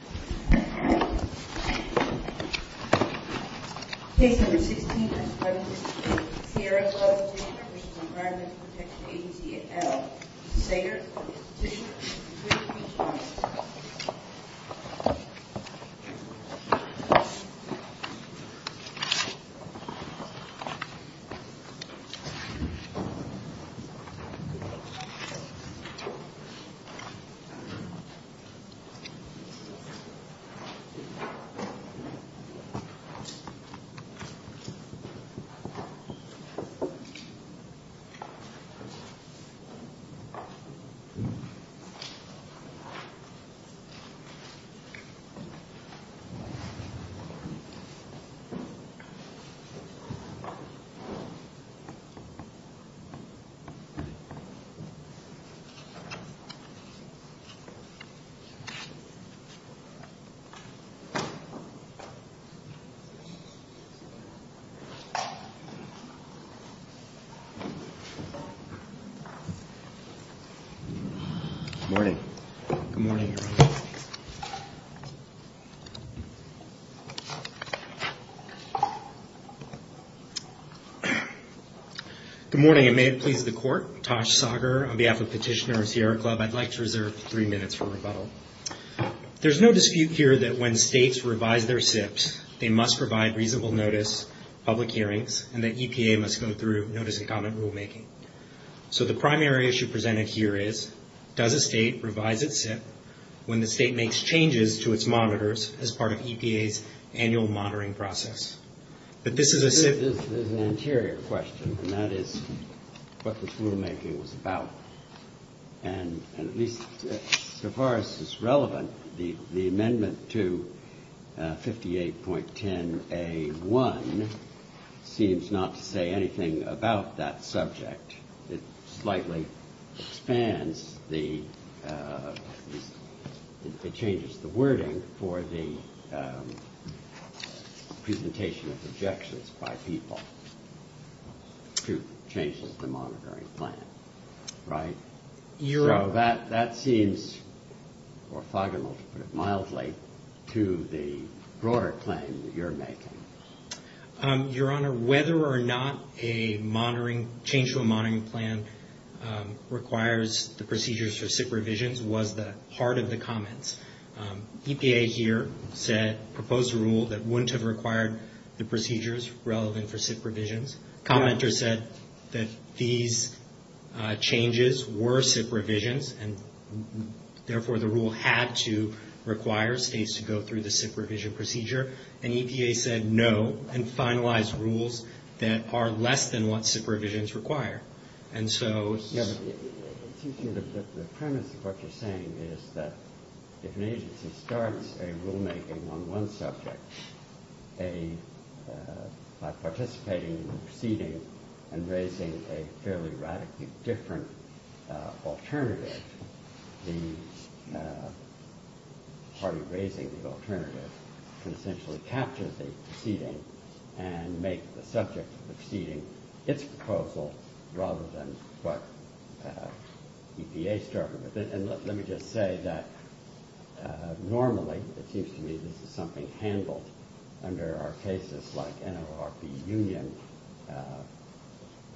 on the ground with the EPA, the Department of the State. Good morning and may it please the court, Tosh Sager on behalf of Petitioner of Sierra Club, I'd like to reserve three minutes for rebuttal. There's no dispute here that when states revise their SIPs, they must provide reasonable notice, public hearings, and that EPA must go through notice and comment rulemaking. So the primary issue presented here is, does a state revise its SIP when the state makes changes to its monitors as part of EPA's annual monitoring process? But this is a SIP... And at least so far as it's relevant, the amendment to 58.10A1 seems not to say anything about that subject. It slightly expands the... It changes the wording for the presentation of objections by people to changes to monitoring plan, right? So that seems orthogonal, mildly, to the broader claim that you're making. Your Honor, whether or not a monitoring, change to a monitoring plan requires the procedures for SIP revisions was the heart of the comments. EPA here said, proposed a rule that wouldn't have required the procedures relevant for SIP revisions. Commenter said that these changes were SIP revisions, and therefore the rule had to require states to go through the SIP revision procedure. And EPA said no, and finalized rules that are less than what SIP revisions require. And so... Your Honor, it seems to me that the premise of what you're saying is that if an agency starts a rulemaking on one subject, by participating in the proceeding and raising a fairly radically different alternative, the party raising the alternative can essentially capture the proceeding and make the subject of the proceeding its proposal rather than what EPA started with. And let me just say that normally, it seems to me, this is something handled under our cases like NLRB union,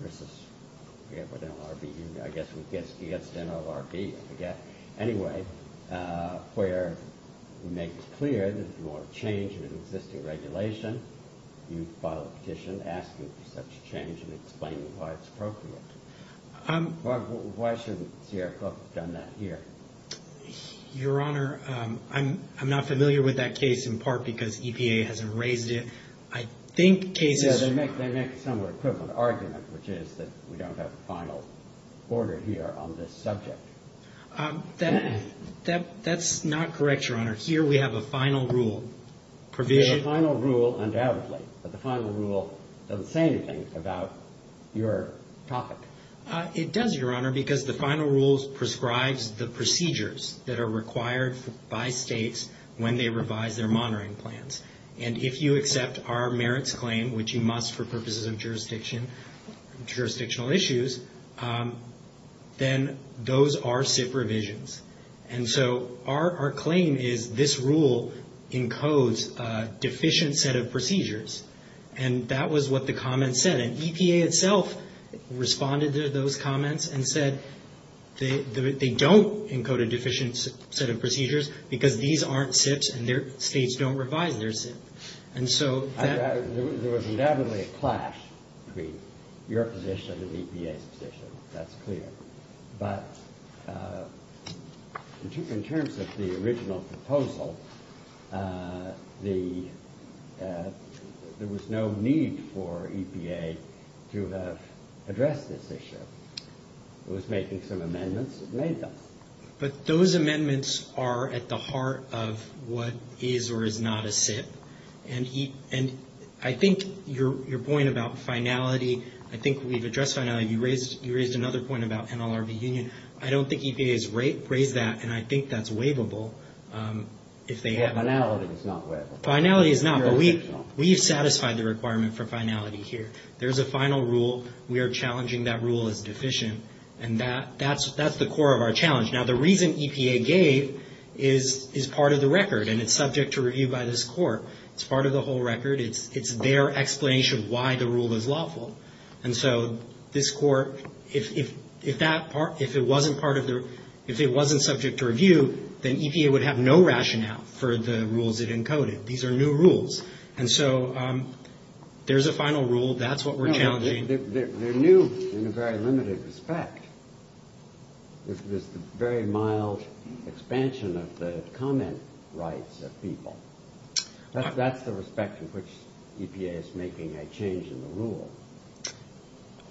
versus NLRB union, I guess against NLRB, I forget. Anyway, where we make it clear that if you want a change in an existing regulation, you file a petition asking for such a change and explaining why it's appropriate. Why shouldn't Sierra Club have done that here? Your Honor, I'm not familiar with that case in part because EPA hasn't raised it. I think cases... Yeah, they make a similar equivalent argument, which is that we don't have a final order here on this subject. That's not correct, Your Honor. Here we have a final rule. We have a final rule undoubtedly, but the final rule doesn't say anything about your topic. It does, Your Honor, because the final rule prescribes the procedures that are required by States when they revise their monitoring plans. And if you accept our merits claim, which you must for purposes of jurisdictional issues, then those are SIF revisions. And so our claim is this rule encodes a deficient set of procedures. And that was what the comments said. And EPA itself responded to those comments and said they don't encode a deficient set of procedures because these aren't SIFs and their States don't revise their SIF. And so... There was undoubtedly a clash between your position and EPA's position. That's clear. But in terms of the original proposal, there was no need for EPA to have addressed this issue. It was making some amendments. It made them. But those amendments are at the heart of what is or is not a SIF. And I think your point about finality, I think we've addressed finality. You raised another point about NLRB union. I don't think EPA has raised that, and I think that's waivable if they have. Finality is not waivable. Finality is not, but we have satisfied the requirement for finality here. There's a final rule. We are challenging that rule as deficient. And that's the core of our challenge. Now, the reason EPA gave is part of the record, and it's subject to review by this Court. It's part of the whole record. It's their explanation why the rule is lawful. And so this Court, if that part, if it wasn't part of the, if it wasn't subject to review, then EPA would have no rationale for the rules it encoded. These are new rules. And so there's a final rule. That's what we're challenging. They're new in a very limited respect. This is a very mild expansion of the comment rights of people. That's the respect in which EPA is making a change in the rule.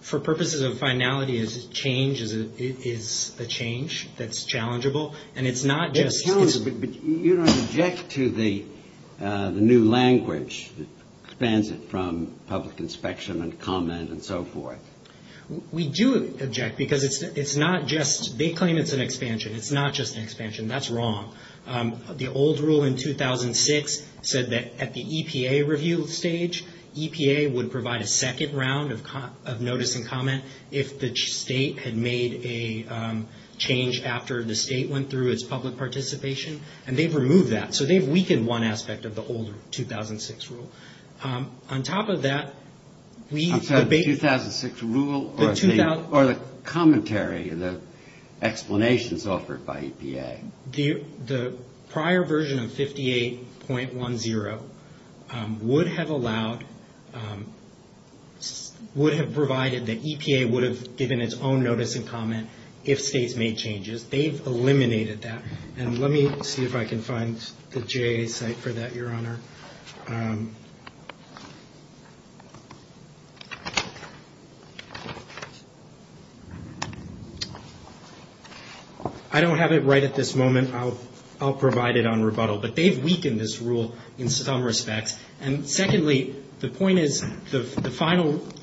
For purposes of finality, is change, is a change that's challengeable? And it's not just It's challengeable, but you don't object to the new language that expands it from public inspection and comment and so forth. We do object because it's not just, they claim it's an expansion. It's not just an expansion. That's wrong. The old rule in 2006 said that at the EPA review stage, EPA would provide a second round of notice and comment if the state had made a change after the state went through its public participation. And they've removed that. So they've weakened one aspect of the old 2006 rule. On top of that, we debate 2006 rule or the commentary, the explanations offered by EPA. The prior version of 58.10 would have allowed, would have provided that EPA would have given its own notice and comment if states made changes. They've eliminated that. And let me see if I can find the JA site for that, Your Honor. I don't have it right at this moment. I'll provide it on rebuttal. But they've weakened this rule in some respects. And secondly, the point is the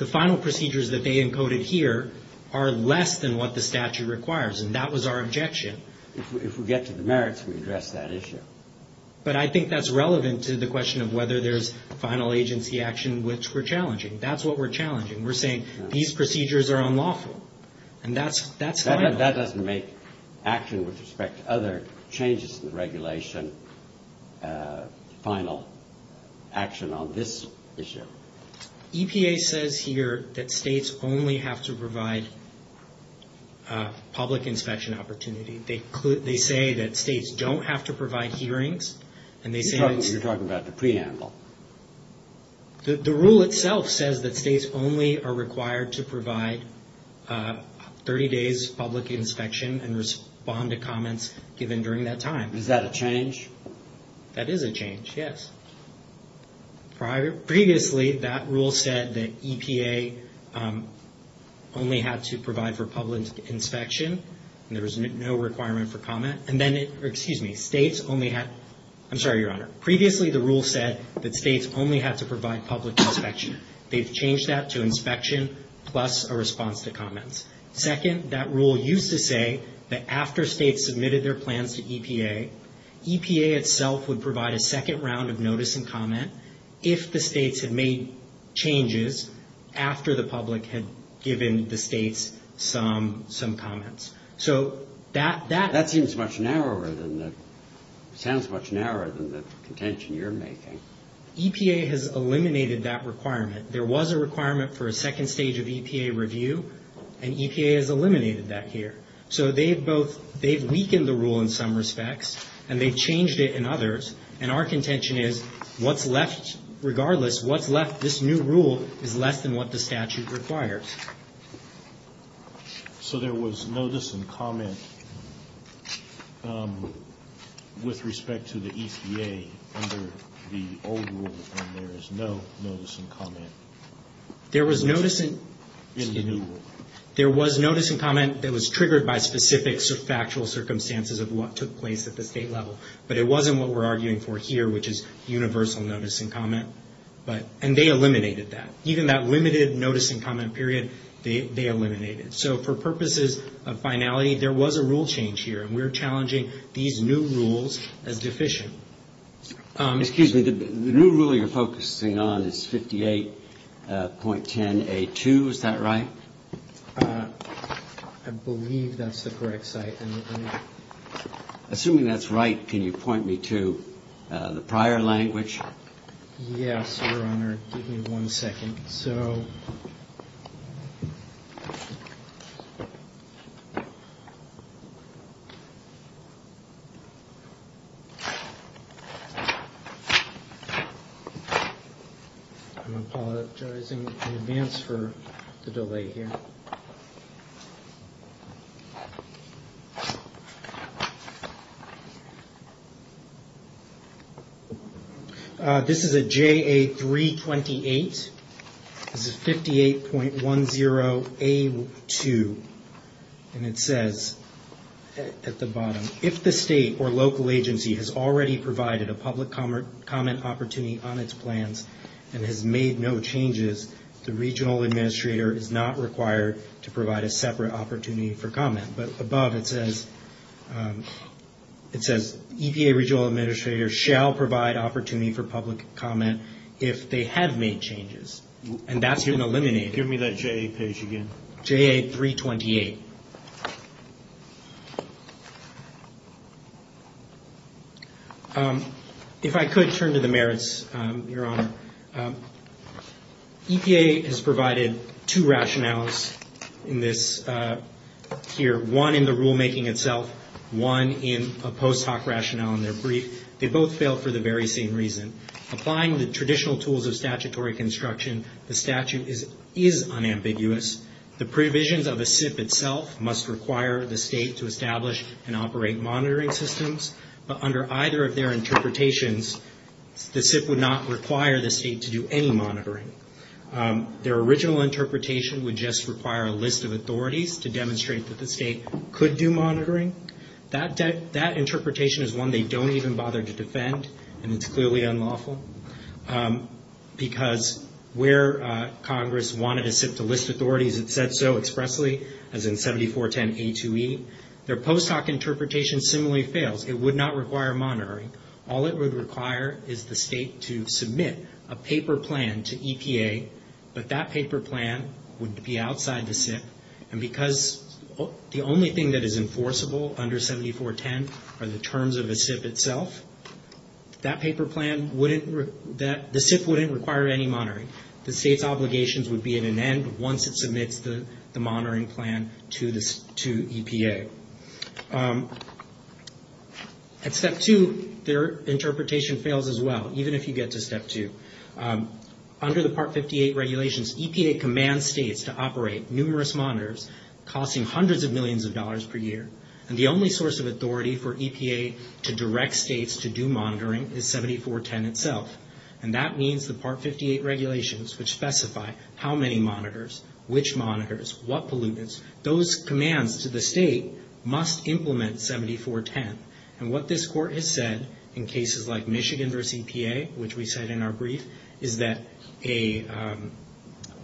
final procedures that they encoded here are less than what the statute requires. And that was our objection. If we get to the merits, we address that issue. But I think that's relevant to the question of whether there's final agency action, which we're challenging. That's what we're challenging. We're saying these procedures are unlawful. And that's final. That doesn't make action with respect to other changes in the regulation final action on this issue. EPA says here that states only have to provide public inspection opportunity. They say that states don't have to provide hearings. You're talking about the preamble. The rule itself says that states only are required to provide 30 days public inspection and respond to comments given during that time. Is that a change? That is a change, yes. Previously, that rule said that EPA only had to provide for public inspection. There was no requirement for comment. And then it, excuse me, states only had, I'm sorry, Your Honor. Previously, the rule said that states only had to provide public inspection. They've changed that to inspection plus a response to comments. Second, that rule used to say that after states submitted their plans to EPA, EPA itself would provide a second round of notice and comment if the states had made changes after the public had given the states some comments. That seems much narrower than the, sounds much narrower than the contention you're making. EPA has eliminated that requirement. There was a requirement for a second stage of EPA review, and EPA has eliminated that here. So they've both, they've weakened the rule in some respects, and they've changed it in others. And our contention is, what's left, regardless, what's left this new rule is less than what the statute requires. So there was notice and comment with respect to the EPA under the old rule, and there is no notice and comment in the new rule? There was notice and comment that was triggered by specific factual circumstances of what took place at the state level. But it wasn't what we're arguing for here, which is universal notice and comment. And they eliminated that. Even that limited notice and comment period, they eliminated. So for purposes of finality, there was a rule change here, and we're challenging these new rules as deficient. Excuse me, the new rule you're focusing on is 58.10a2, is that right? I believe that's the correct site. Assuming that's right, can you point me to the prior language? Yes, Your Honor, give me one second. I'm apologizing in advance for the delay here. This is a JA 328. This is 58.10a2, and it says at the bottom, if the state or local agency has already provided a public comment opportunity on its plans and has made no changes, the regional administrator is not required to provide a separate opportunity for comment. But above it says, EPA regional administrator shall provide opportunity for public comment if they have made changes. And that's been eliminated. Give me that JA page again. JA 328. If I could, turn to the merits, Your Honor. EPA has provided two rationales in this here, one in the rulemaking itself, one in a post hoc rationale in their brief. They both fail for the very same reason. Applying the traditional tools of statutory construction, the statute is unambiguous. The provisions of the SIP itself must require the state to establish and operate monitoring systems. But under either of their interpretations, the SIP would not require the state to do any monitoring. Their original interpretation would just require a list of authorities to demonstrate that the state could do monitoring. That interpretation is one they don't even bother to defend, and it's clearly unlawful. Because where Congress wanted a SIP to list authorities, it said so expressly, as in 7410A2E. Their post hoc interpretation similarly fails. It would not require monitoring. All it would require is the state to submit a paper plan to EPA, but that paper plan would be outside the SIP. And because the only thing that is enforceable under 7410 are the terms of the SIP itself, the SIP wouldn't require any monitoring. The state's obligations would be at an end once it submits the monitoring plan to EPA. At Step 2, their interpretation fails as well, even if you get to Step 2. Under the Part 58 regulations, EPA commands states to operate numerous monitors, costing hundreds of millions of dollars per year. And the only source of authority for EPA to direct states to do monitoring is 7410 itself. And that means the Part 58 regulations, which specify how many monitors, which monitors, what pollutants, those commands to the state must implement 7410. And what this Court has said in cases like Michigan versus EPA, which we cite in our brief, is that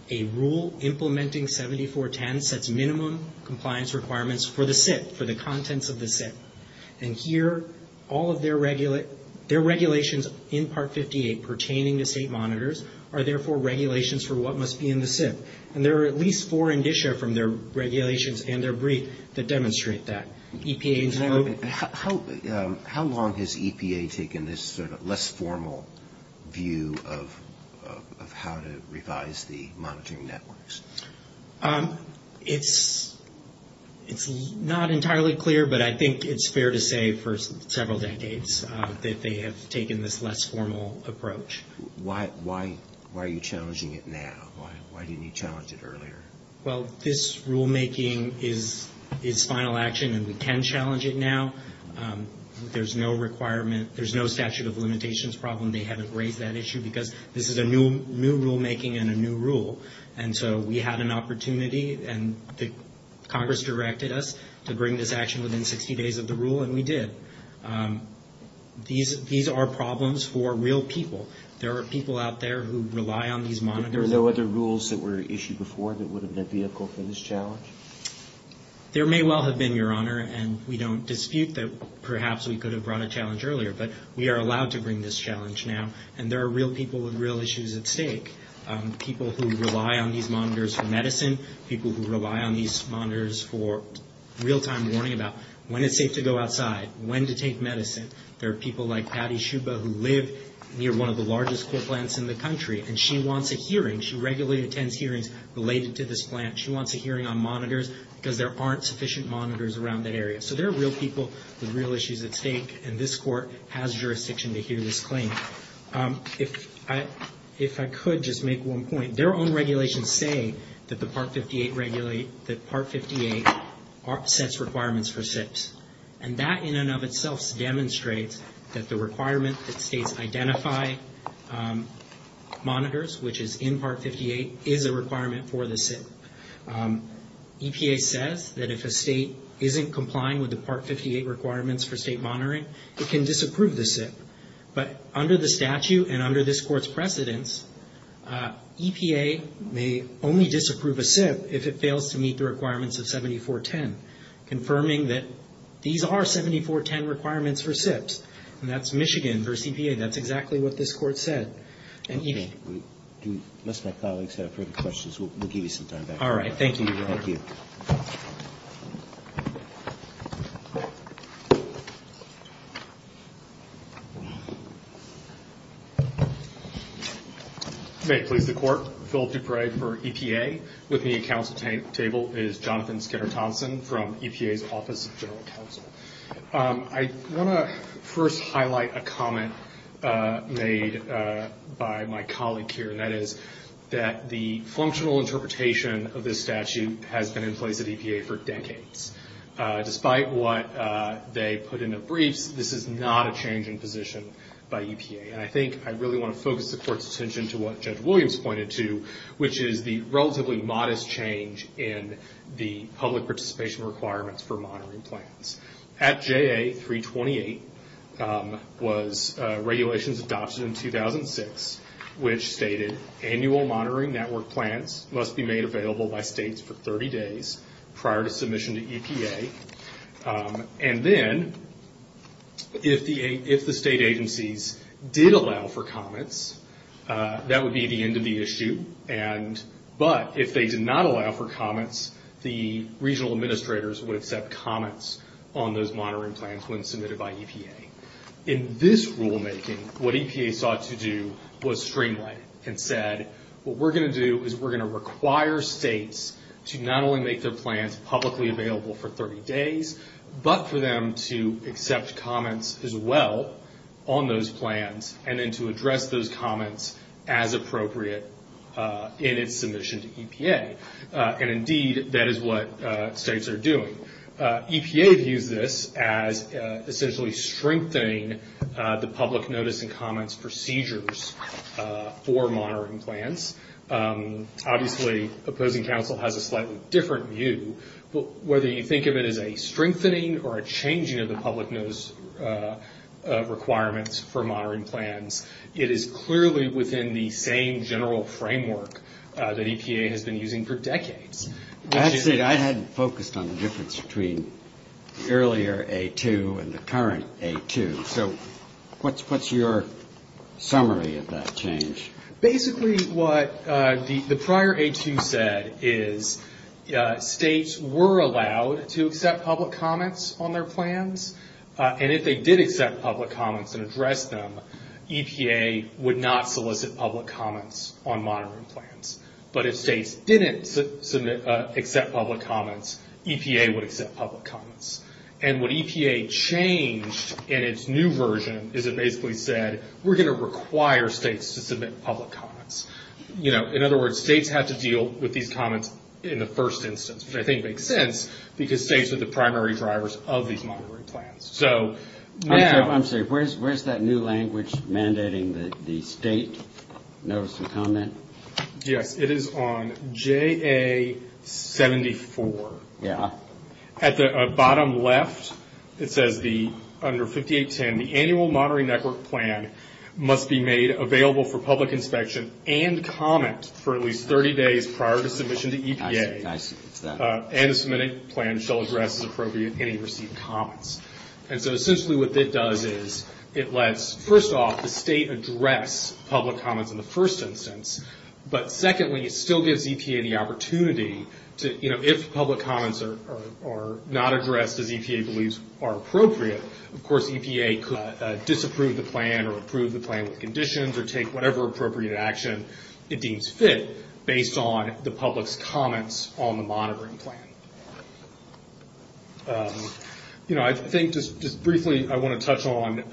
a rule implementing 7410 sets minimum compliance requirements for the SIP, for the contents of the SIP. And here all of their regulations in Part 58 pertaining to state monitors are therefore regulations for what must be in the SIP. And there are at least four in DSHA from their regulations and their brief that demonstrate that. How long has EPA taken this sort of less formal view of how to revise the monitoring networks? It's not entirely clear, but I think it's fair to say for several decades that they have taken this less formal approach. Why are you challenging it now? Why didn't you challenge it earlier? Well, this rulemaking is final action and we can challenge it now. There's no requirement, there's no statute of limitations problem. They haven't raised that issue because this is a new rulemaking and a new rule. And so we had an opportunity and Congress directed us to bring this action within 60 days of the rule and we did. These are problems for real people. There are people out there who rely on these monitors. And there were no other rules that were issued before that would have been a vehicle for this challenge? There may well have been, Your Honor, and we don't dispute that perhaps we could have brought a challenge earlier, but we are allowed to bring this challenge now and there are real people with real issues at stake. People who rely on these monitors for medicine, people who rely on these monitors for real-time warning about when it's safe to go outside, when to take medicine. There are people like Patty Shuba who live near one of the largest court plants in the country and she wants a hearing. She regularly attends hearings related to this plant. She wants a hearing on monitors because there aren't sufficient monitors around that area. So there are real people with real issues at stake and this court has jurisdiction to hear this claim. If I could just make one point. Their own regulations say that the Part 58 sets requirements for SIPs. And that in and of itself demonstrates that the requirement that states identify monitors, which is in Part 58, is a requirement for the SIP. EPA says that if a state isn't complying with the Part 58 requirements for state monitoring, it can disapprove the SIP. But under the statute and under this court's precedence, EPA may only disapprove a SIP if it fails to meet the requirements of 7410, confirming that these are 7410 requirements for SIPs. And that's Michigan versus EPA. That's exactly what this court said. Okay. Unless my colleagues have further questions, we'll give you some time. All right. Thank you, Your Honor. Thank you. May it please the Court. Philip Dupre for EPA. With me at counsel table is Jonathan Skinner-Thompson from EPA's Office of General Counsel. I want to first highlight a comment made by my colleague here, and that is that the functional interpretation of this statute has been in place at EPA for decades. Despite what they put in the briefs, this is not a change in position by EPA. And I think I really want to focus the Court's attention to what Judge Williams pointed to, which is the relatively modest change in the public participation requirements for monitoring plans. At JA 328 was regulations adopted in 2006, which stated annual monitoring network plans must be made available by states for 30 days prior to submission to EPA. And then if the state agencies did allow for comments, that would be the end of the issue. But if they did not allow for comments, the regional administrators would accept comments on those monitoring plans when submitted by EPA. In this rulemaking, what EPA sought to do was streamline it and said, what we're going to do is we're going to require states to not only make their plans publicly available for 30 days, but for them to accept comments as well on those plans and then to address those comments as appropriate in its submission to EPA. And indeed, that is what states are doing. EPA views this as essentially strengthening the public notice and comments procedures for monitoring plans. Obviously, opposing counsel has a slightly different view, but whether you think of it as a strengthening or a changing of the public notice requirements for monitoring plans, it is clearly within the same general framework that EPA has been using for decades. Actually, I hadn't focused on the difference between the earlier A2 and the current A2. So what's your summary of that change? Basically, what the prior A2 said is states were allowed to accept public comments on their plans, and if they did accept public comments and address them, EPA would not solicit public comments on monitoring plans. But if states didn't accept public comments, EPA would accept public comments. And what EPA changed in its new version is it basically said, we're going to accept public comments. In other words, states have to deal with these comments in the first instance, which I think makes sense because states are the primary drivers of these monitoring plans. I'm sorry, where's that new language mandating that the state notice and comment? Yes, it is on JA-74. At the bottom left, it says under 5810, the annual monitoring network plan must be made available for public inspection and comment for at least 30 days prior to submission to EPA, and a submitted plan shall address as appropriate any received comments. And so essentially what that does is it lets, first off, the state address public comments in the first instance. But secondly, it still gives EPA the opportunity to, you know, if public comments are not addressed as EPA believes are appropriate, of course EPA could disapprove the plan or approve the plan with conditions or take whatever appropriate action it deems fit based on the public's comments on the monitoring plan. You know, I think just briefly I want to touch on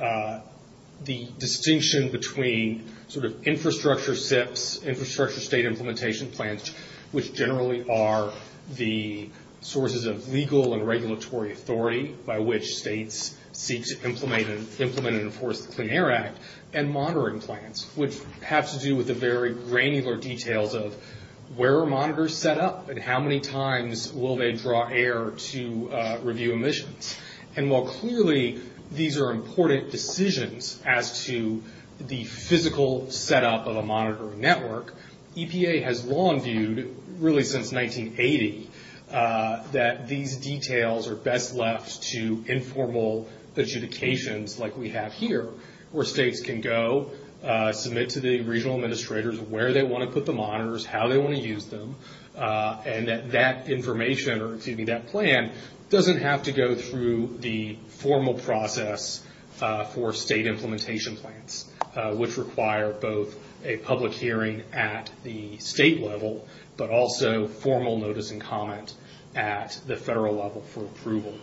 the distinction between sort of infrastructure SIPs, infrastructure state implementation plans, which generally are the sources of legal and regulatory authority by which states seek to implement and enforce the Clean Air Act, and monitoring plans, which have to do with the very granular details of where are monitors set up and how many times will they draw air to review emissions. And while clearly these are important decisions as to the physical setup of a monitoring network, EPA has long viewed, really since 1980, that these details are best left to informal adjudications like we have here, where states can go, submit to the regional administrators where they want to put the monitors, how they want to use them, and that that information, or excuse me, that plan doesn't have to go through the formal process for state implementation plans, which require both a public hearing at the state level, but also formal notice and comment at the federal level for approval.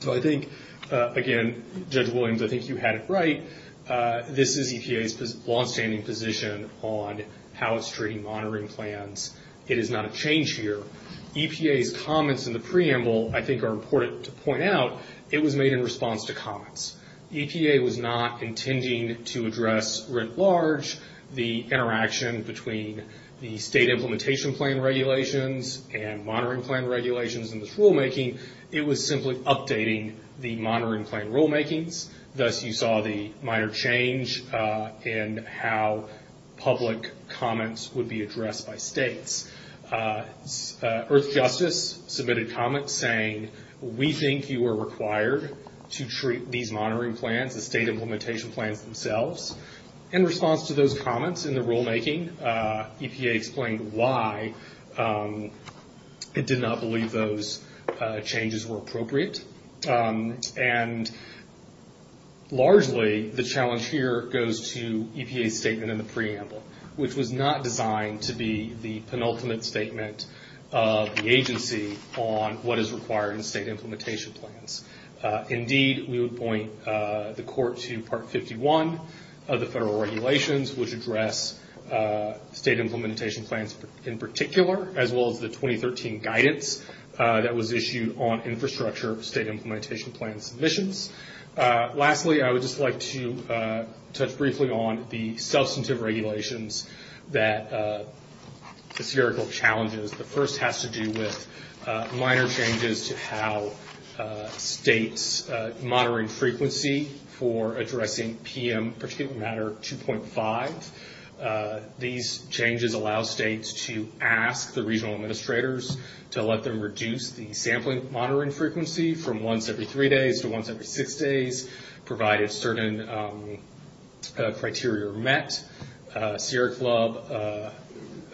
So I think, again, Judge Williams, I think you had it right. This is EPA's longstanding position on how it's treating monitoring plans. It is not a change here. EPA's comments in the preamble I think are important to point out. It was made in response to comments. EPA was not intending to address, writ large, the interaction between the state implementation plan regulations and monitoring plan regulations in this rulemaking. It was simply updating the monitoring plan rulemakings. Thus, you saw the minor change in how public comments would be addressed by states. Earthjustice submitted comments saying, we think you are required to treat these monitoring plans, the state implementation plans themselves. In response to those comments in the rulemaking, EPA explained why it did not believe those changes were appropriate. And largely, the challenge here goes to EPA's statement in the preamble, which was not designed to be the penultimate statement of the agency on what is required in state implementation plans. Indeed, we would point the court to Part 51 of the federal regulations, which address state implementation plans in particular, as well as the 2013 guidance that was issued on infrastructure state implementation plan submissions. Lastly, I would just like to touch briefly on the substantive regulations, the spherical challenges. The first has to do with minor changes to how states monitoring frequency for addressing PM 2.5. These changes allow states to ask the regional administrators to let them reduce the sampling monitoring frequency from once every three days to once every six days, provided certain criteria are met. Sierra Club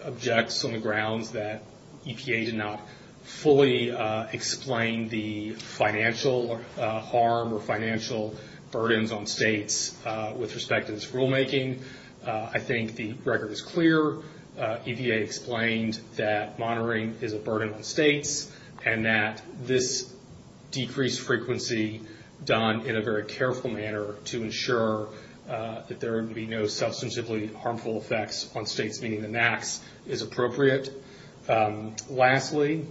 objects on the grounds that EPA did not fully explain the financial harm or financial burdens on states with respect to this rulemaking. I think the record is clear. EPA explained that monitoring is a burden on states, and that this decreased frequency done in a very careful manner to ensure that there would be no substantively harmful effects on states, meaning the max is appropriate. Lastly,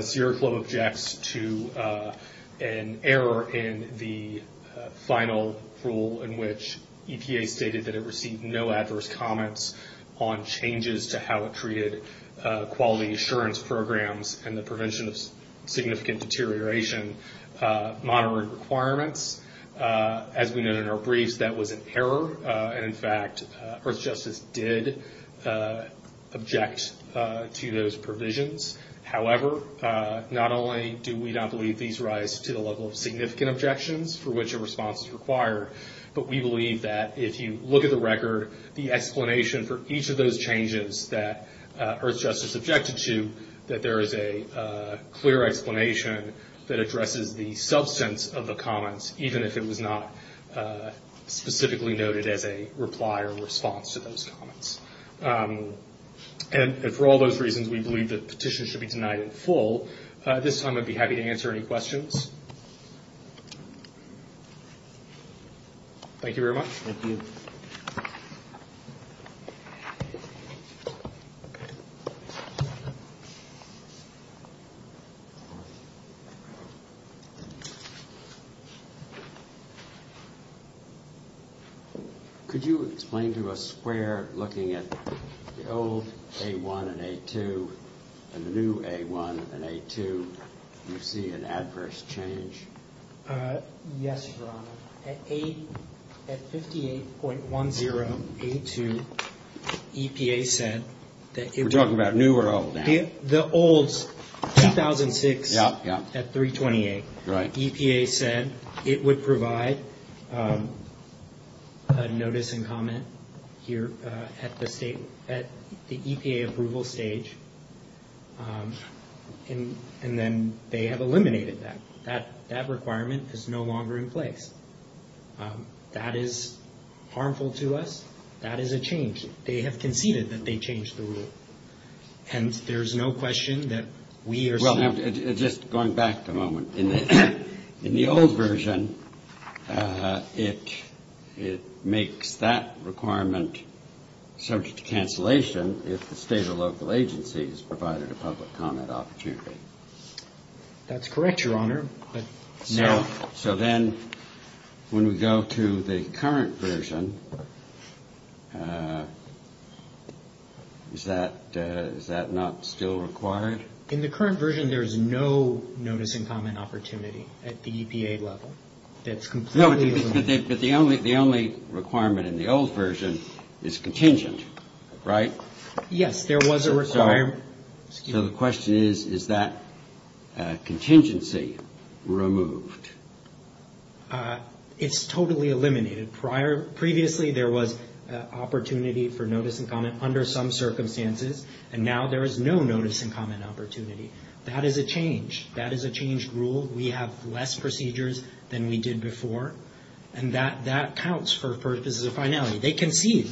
Sierra Club objects to an error in the final rule, in which EPA stated that it received no adverse comments on changes to how it treated quality assurance programs and the prevention of significant deterioration monitoring requirements. As we know in our briefs, that was an error. In fact, Earthjustice did object to those provisions. However, not only do we not believe these rise to the level of significant objections for which a response is required, but we believe that if you look at the record, the explanation for each of those changes that Earthjustice objected to, that there is a clear explanation that addresses the substance of the comments, even if it was not specifically noted as a reply or response to those comments. For all those reasons, we believe that petitions should be denied in full. At this time, I'd be happy to answer any questions. Thank you very much. Thank you. Thank you. Could you explain to us where looking at the old A-1 and A-2 and the new A-1 and A-2, you see an adverse change? Yes, Your Honor. At 58.10 A-2, EPA said that it would- We're talking about new or old now? The old 2006 at 328. Right. EPA said it would provide a notice and comment here at the EPA approval stage, and then they have eliminated that. That requirement is no longer in place. That is harmful to us. That is a change. They have conceded that they changed the rule, and there's no question that we are- Just going back a moment, in the old version, it makes that requirement subject to cancellation if the State or local agencies provided a public comment opportunity. That's correct, Your Honor, but- So then when we go to the current version, is that not still required? In the current version, there's no notice and comment opportunity at the EPA level. That's completely- But the only requirement in the old version is contingent, right? Yes, there was a requirement. So the question is, is that contingency removed? It's totally eliminated. Previously, there was opportunity for notice and comment under some circumstances, and now there is no notice and comment opportunity. That is a change. That is a changed rule. We have less procedures than we did before, and that counts for- This is a finality. They concede.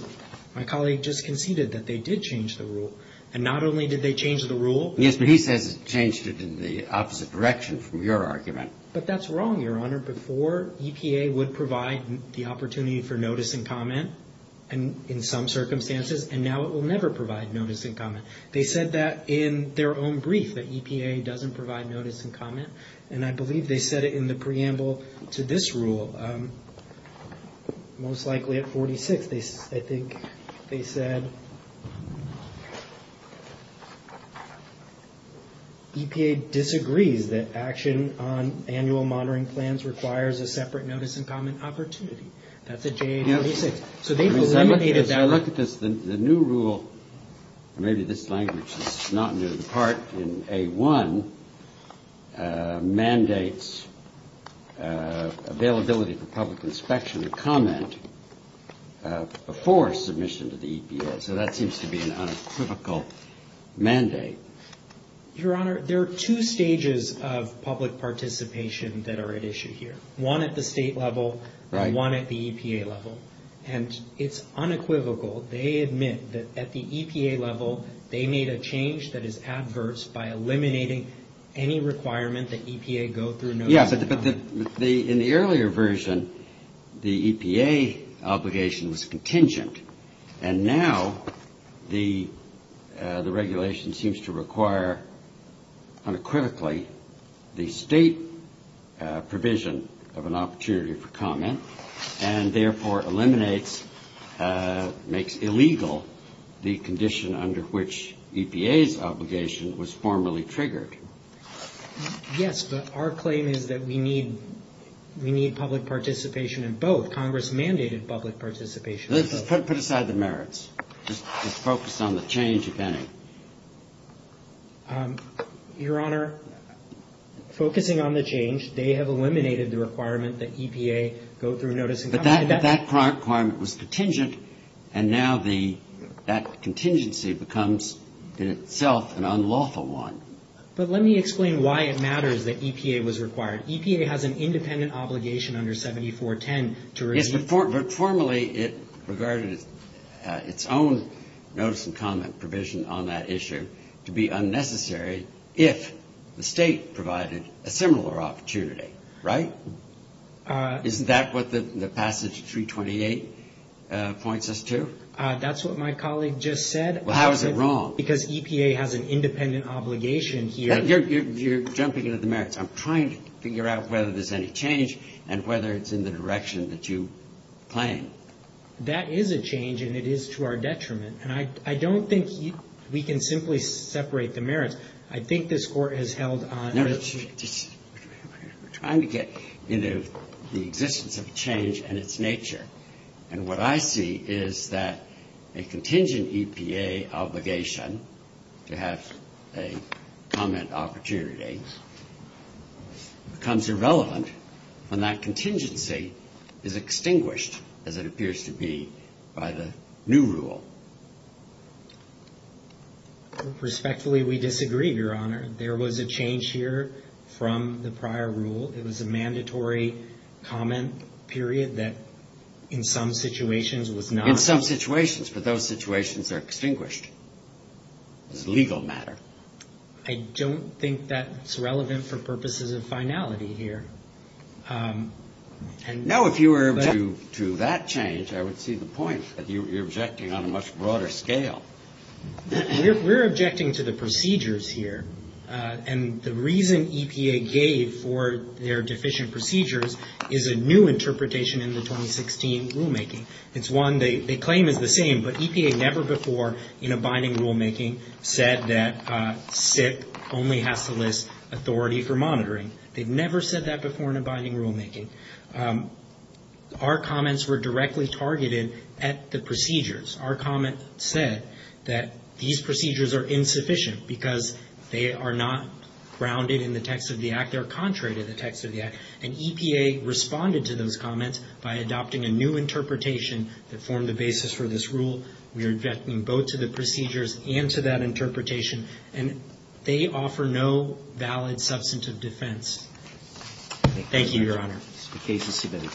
My colleague just conceded that they did change the rule, and not only did they change the rule- Yes, but he says it changed it in the opposite direction from your argument. But that's wrong, Your Honor. Before, EPA would provide the opportunity for notice and comment in some circumstances, and now it will never provide notice and comment. They said that in their own brief, that EPA doesn't provide notice and comment, and I believe they said it in the preamble to this rule. Most likely at 46, I think they said, EPA disagrees that action on annual monitoring plans requires a separate notice and comment opportunity. That's at JA 46. So they've eliminated that- As I look at this, the new rule, and maybe this language is not new, the part in A1 mandates availability for public inspection and comment before submission to the EPA. So that seems to be an unequivocal mandate. Your Honor, there are two stages of public participation that are at issue here, one at the state level and one at the EPA level, and it's unequivocal. They admit that at the EPA level, they made a change that is adverse by eliminating any requirement that EPA go through notice and comment. Yes, but in the earlier version, the EPA obligation was contingent, and now the regulation seems to require unequivocally the state provision of an opportunity for comment and therefore eliminates, makes illegal the condition under which EPA's obligation was formerly triggered. Yes, but our claim is that we need public participation in both. Congress mandated public participation in both. Put aside the merits. Just focus on the change, if any. Your Honor, focusing on the change, they have eliminated the requirement that EPA go through notice and comment. But that requirement was contingent, and now that contingency becomes in itself an unlawful one. But let me explain why it matters that EPA was required. EPA has an independent obligation under 7410 to review. But formally, it regarded its own notice and comment provision on that issue to be unnecessary if the state provided a similar opportunity, right? Isn't that what the passage 328 points us to? That's what my colleague just said. Well, how is it wrong? Because EPA has an independent obligation here. You're jumping into the merits. I'm trying to figure out whether there's any change and whether it's in the direction that you claim. That is a change, and it is to our detriment. And I don't think we can simply separate the merits. I think this Court has held on to it. We're trying to get into the existence of change and its nature. And what I see is that a contingent EPA obligation to have a comment opportunity becomes irrelevant when that contingency is extinguished, as it appears to be, by the new rule. Respectfully, we disagree, Your Honor. There was a change here from the prior rule. It was a mandatory comment period that in some situations was not. In some situations. But those situations are extinguished. It's a legal matter. I don't think that's relevant for purposes of finality here. Now, if you were to do that change, I would see the point that you're objecting on a much broader scale. We're objecting to the procedures here. And the reason EPA gave for their deficient procedures is a new interpretation in the 2016 rulemaking. It's one they claim is the same, but EPA never before in a binding rulemaking said that SIP only has to list authority for monitoring. They've never said that before in a binding rulemaking. Our comments were directly targeted at the procedures. Our comment said that these procedures are insufficient because they are not grounded in the text of the Act. They're contrary to the text of the Act. And EPA responded to those comments by adopting a new interpretation that formed the basis for this rule. We are objecting both to the procedures and to that interpretation. And they offer no valid substantive defense. Thank you, Your Honor. The case is submitted.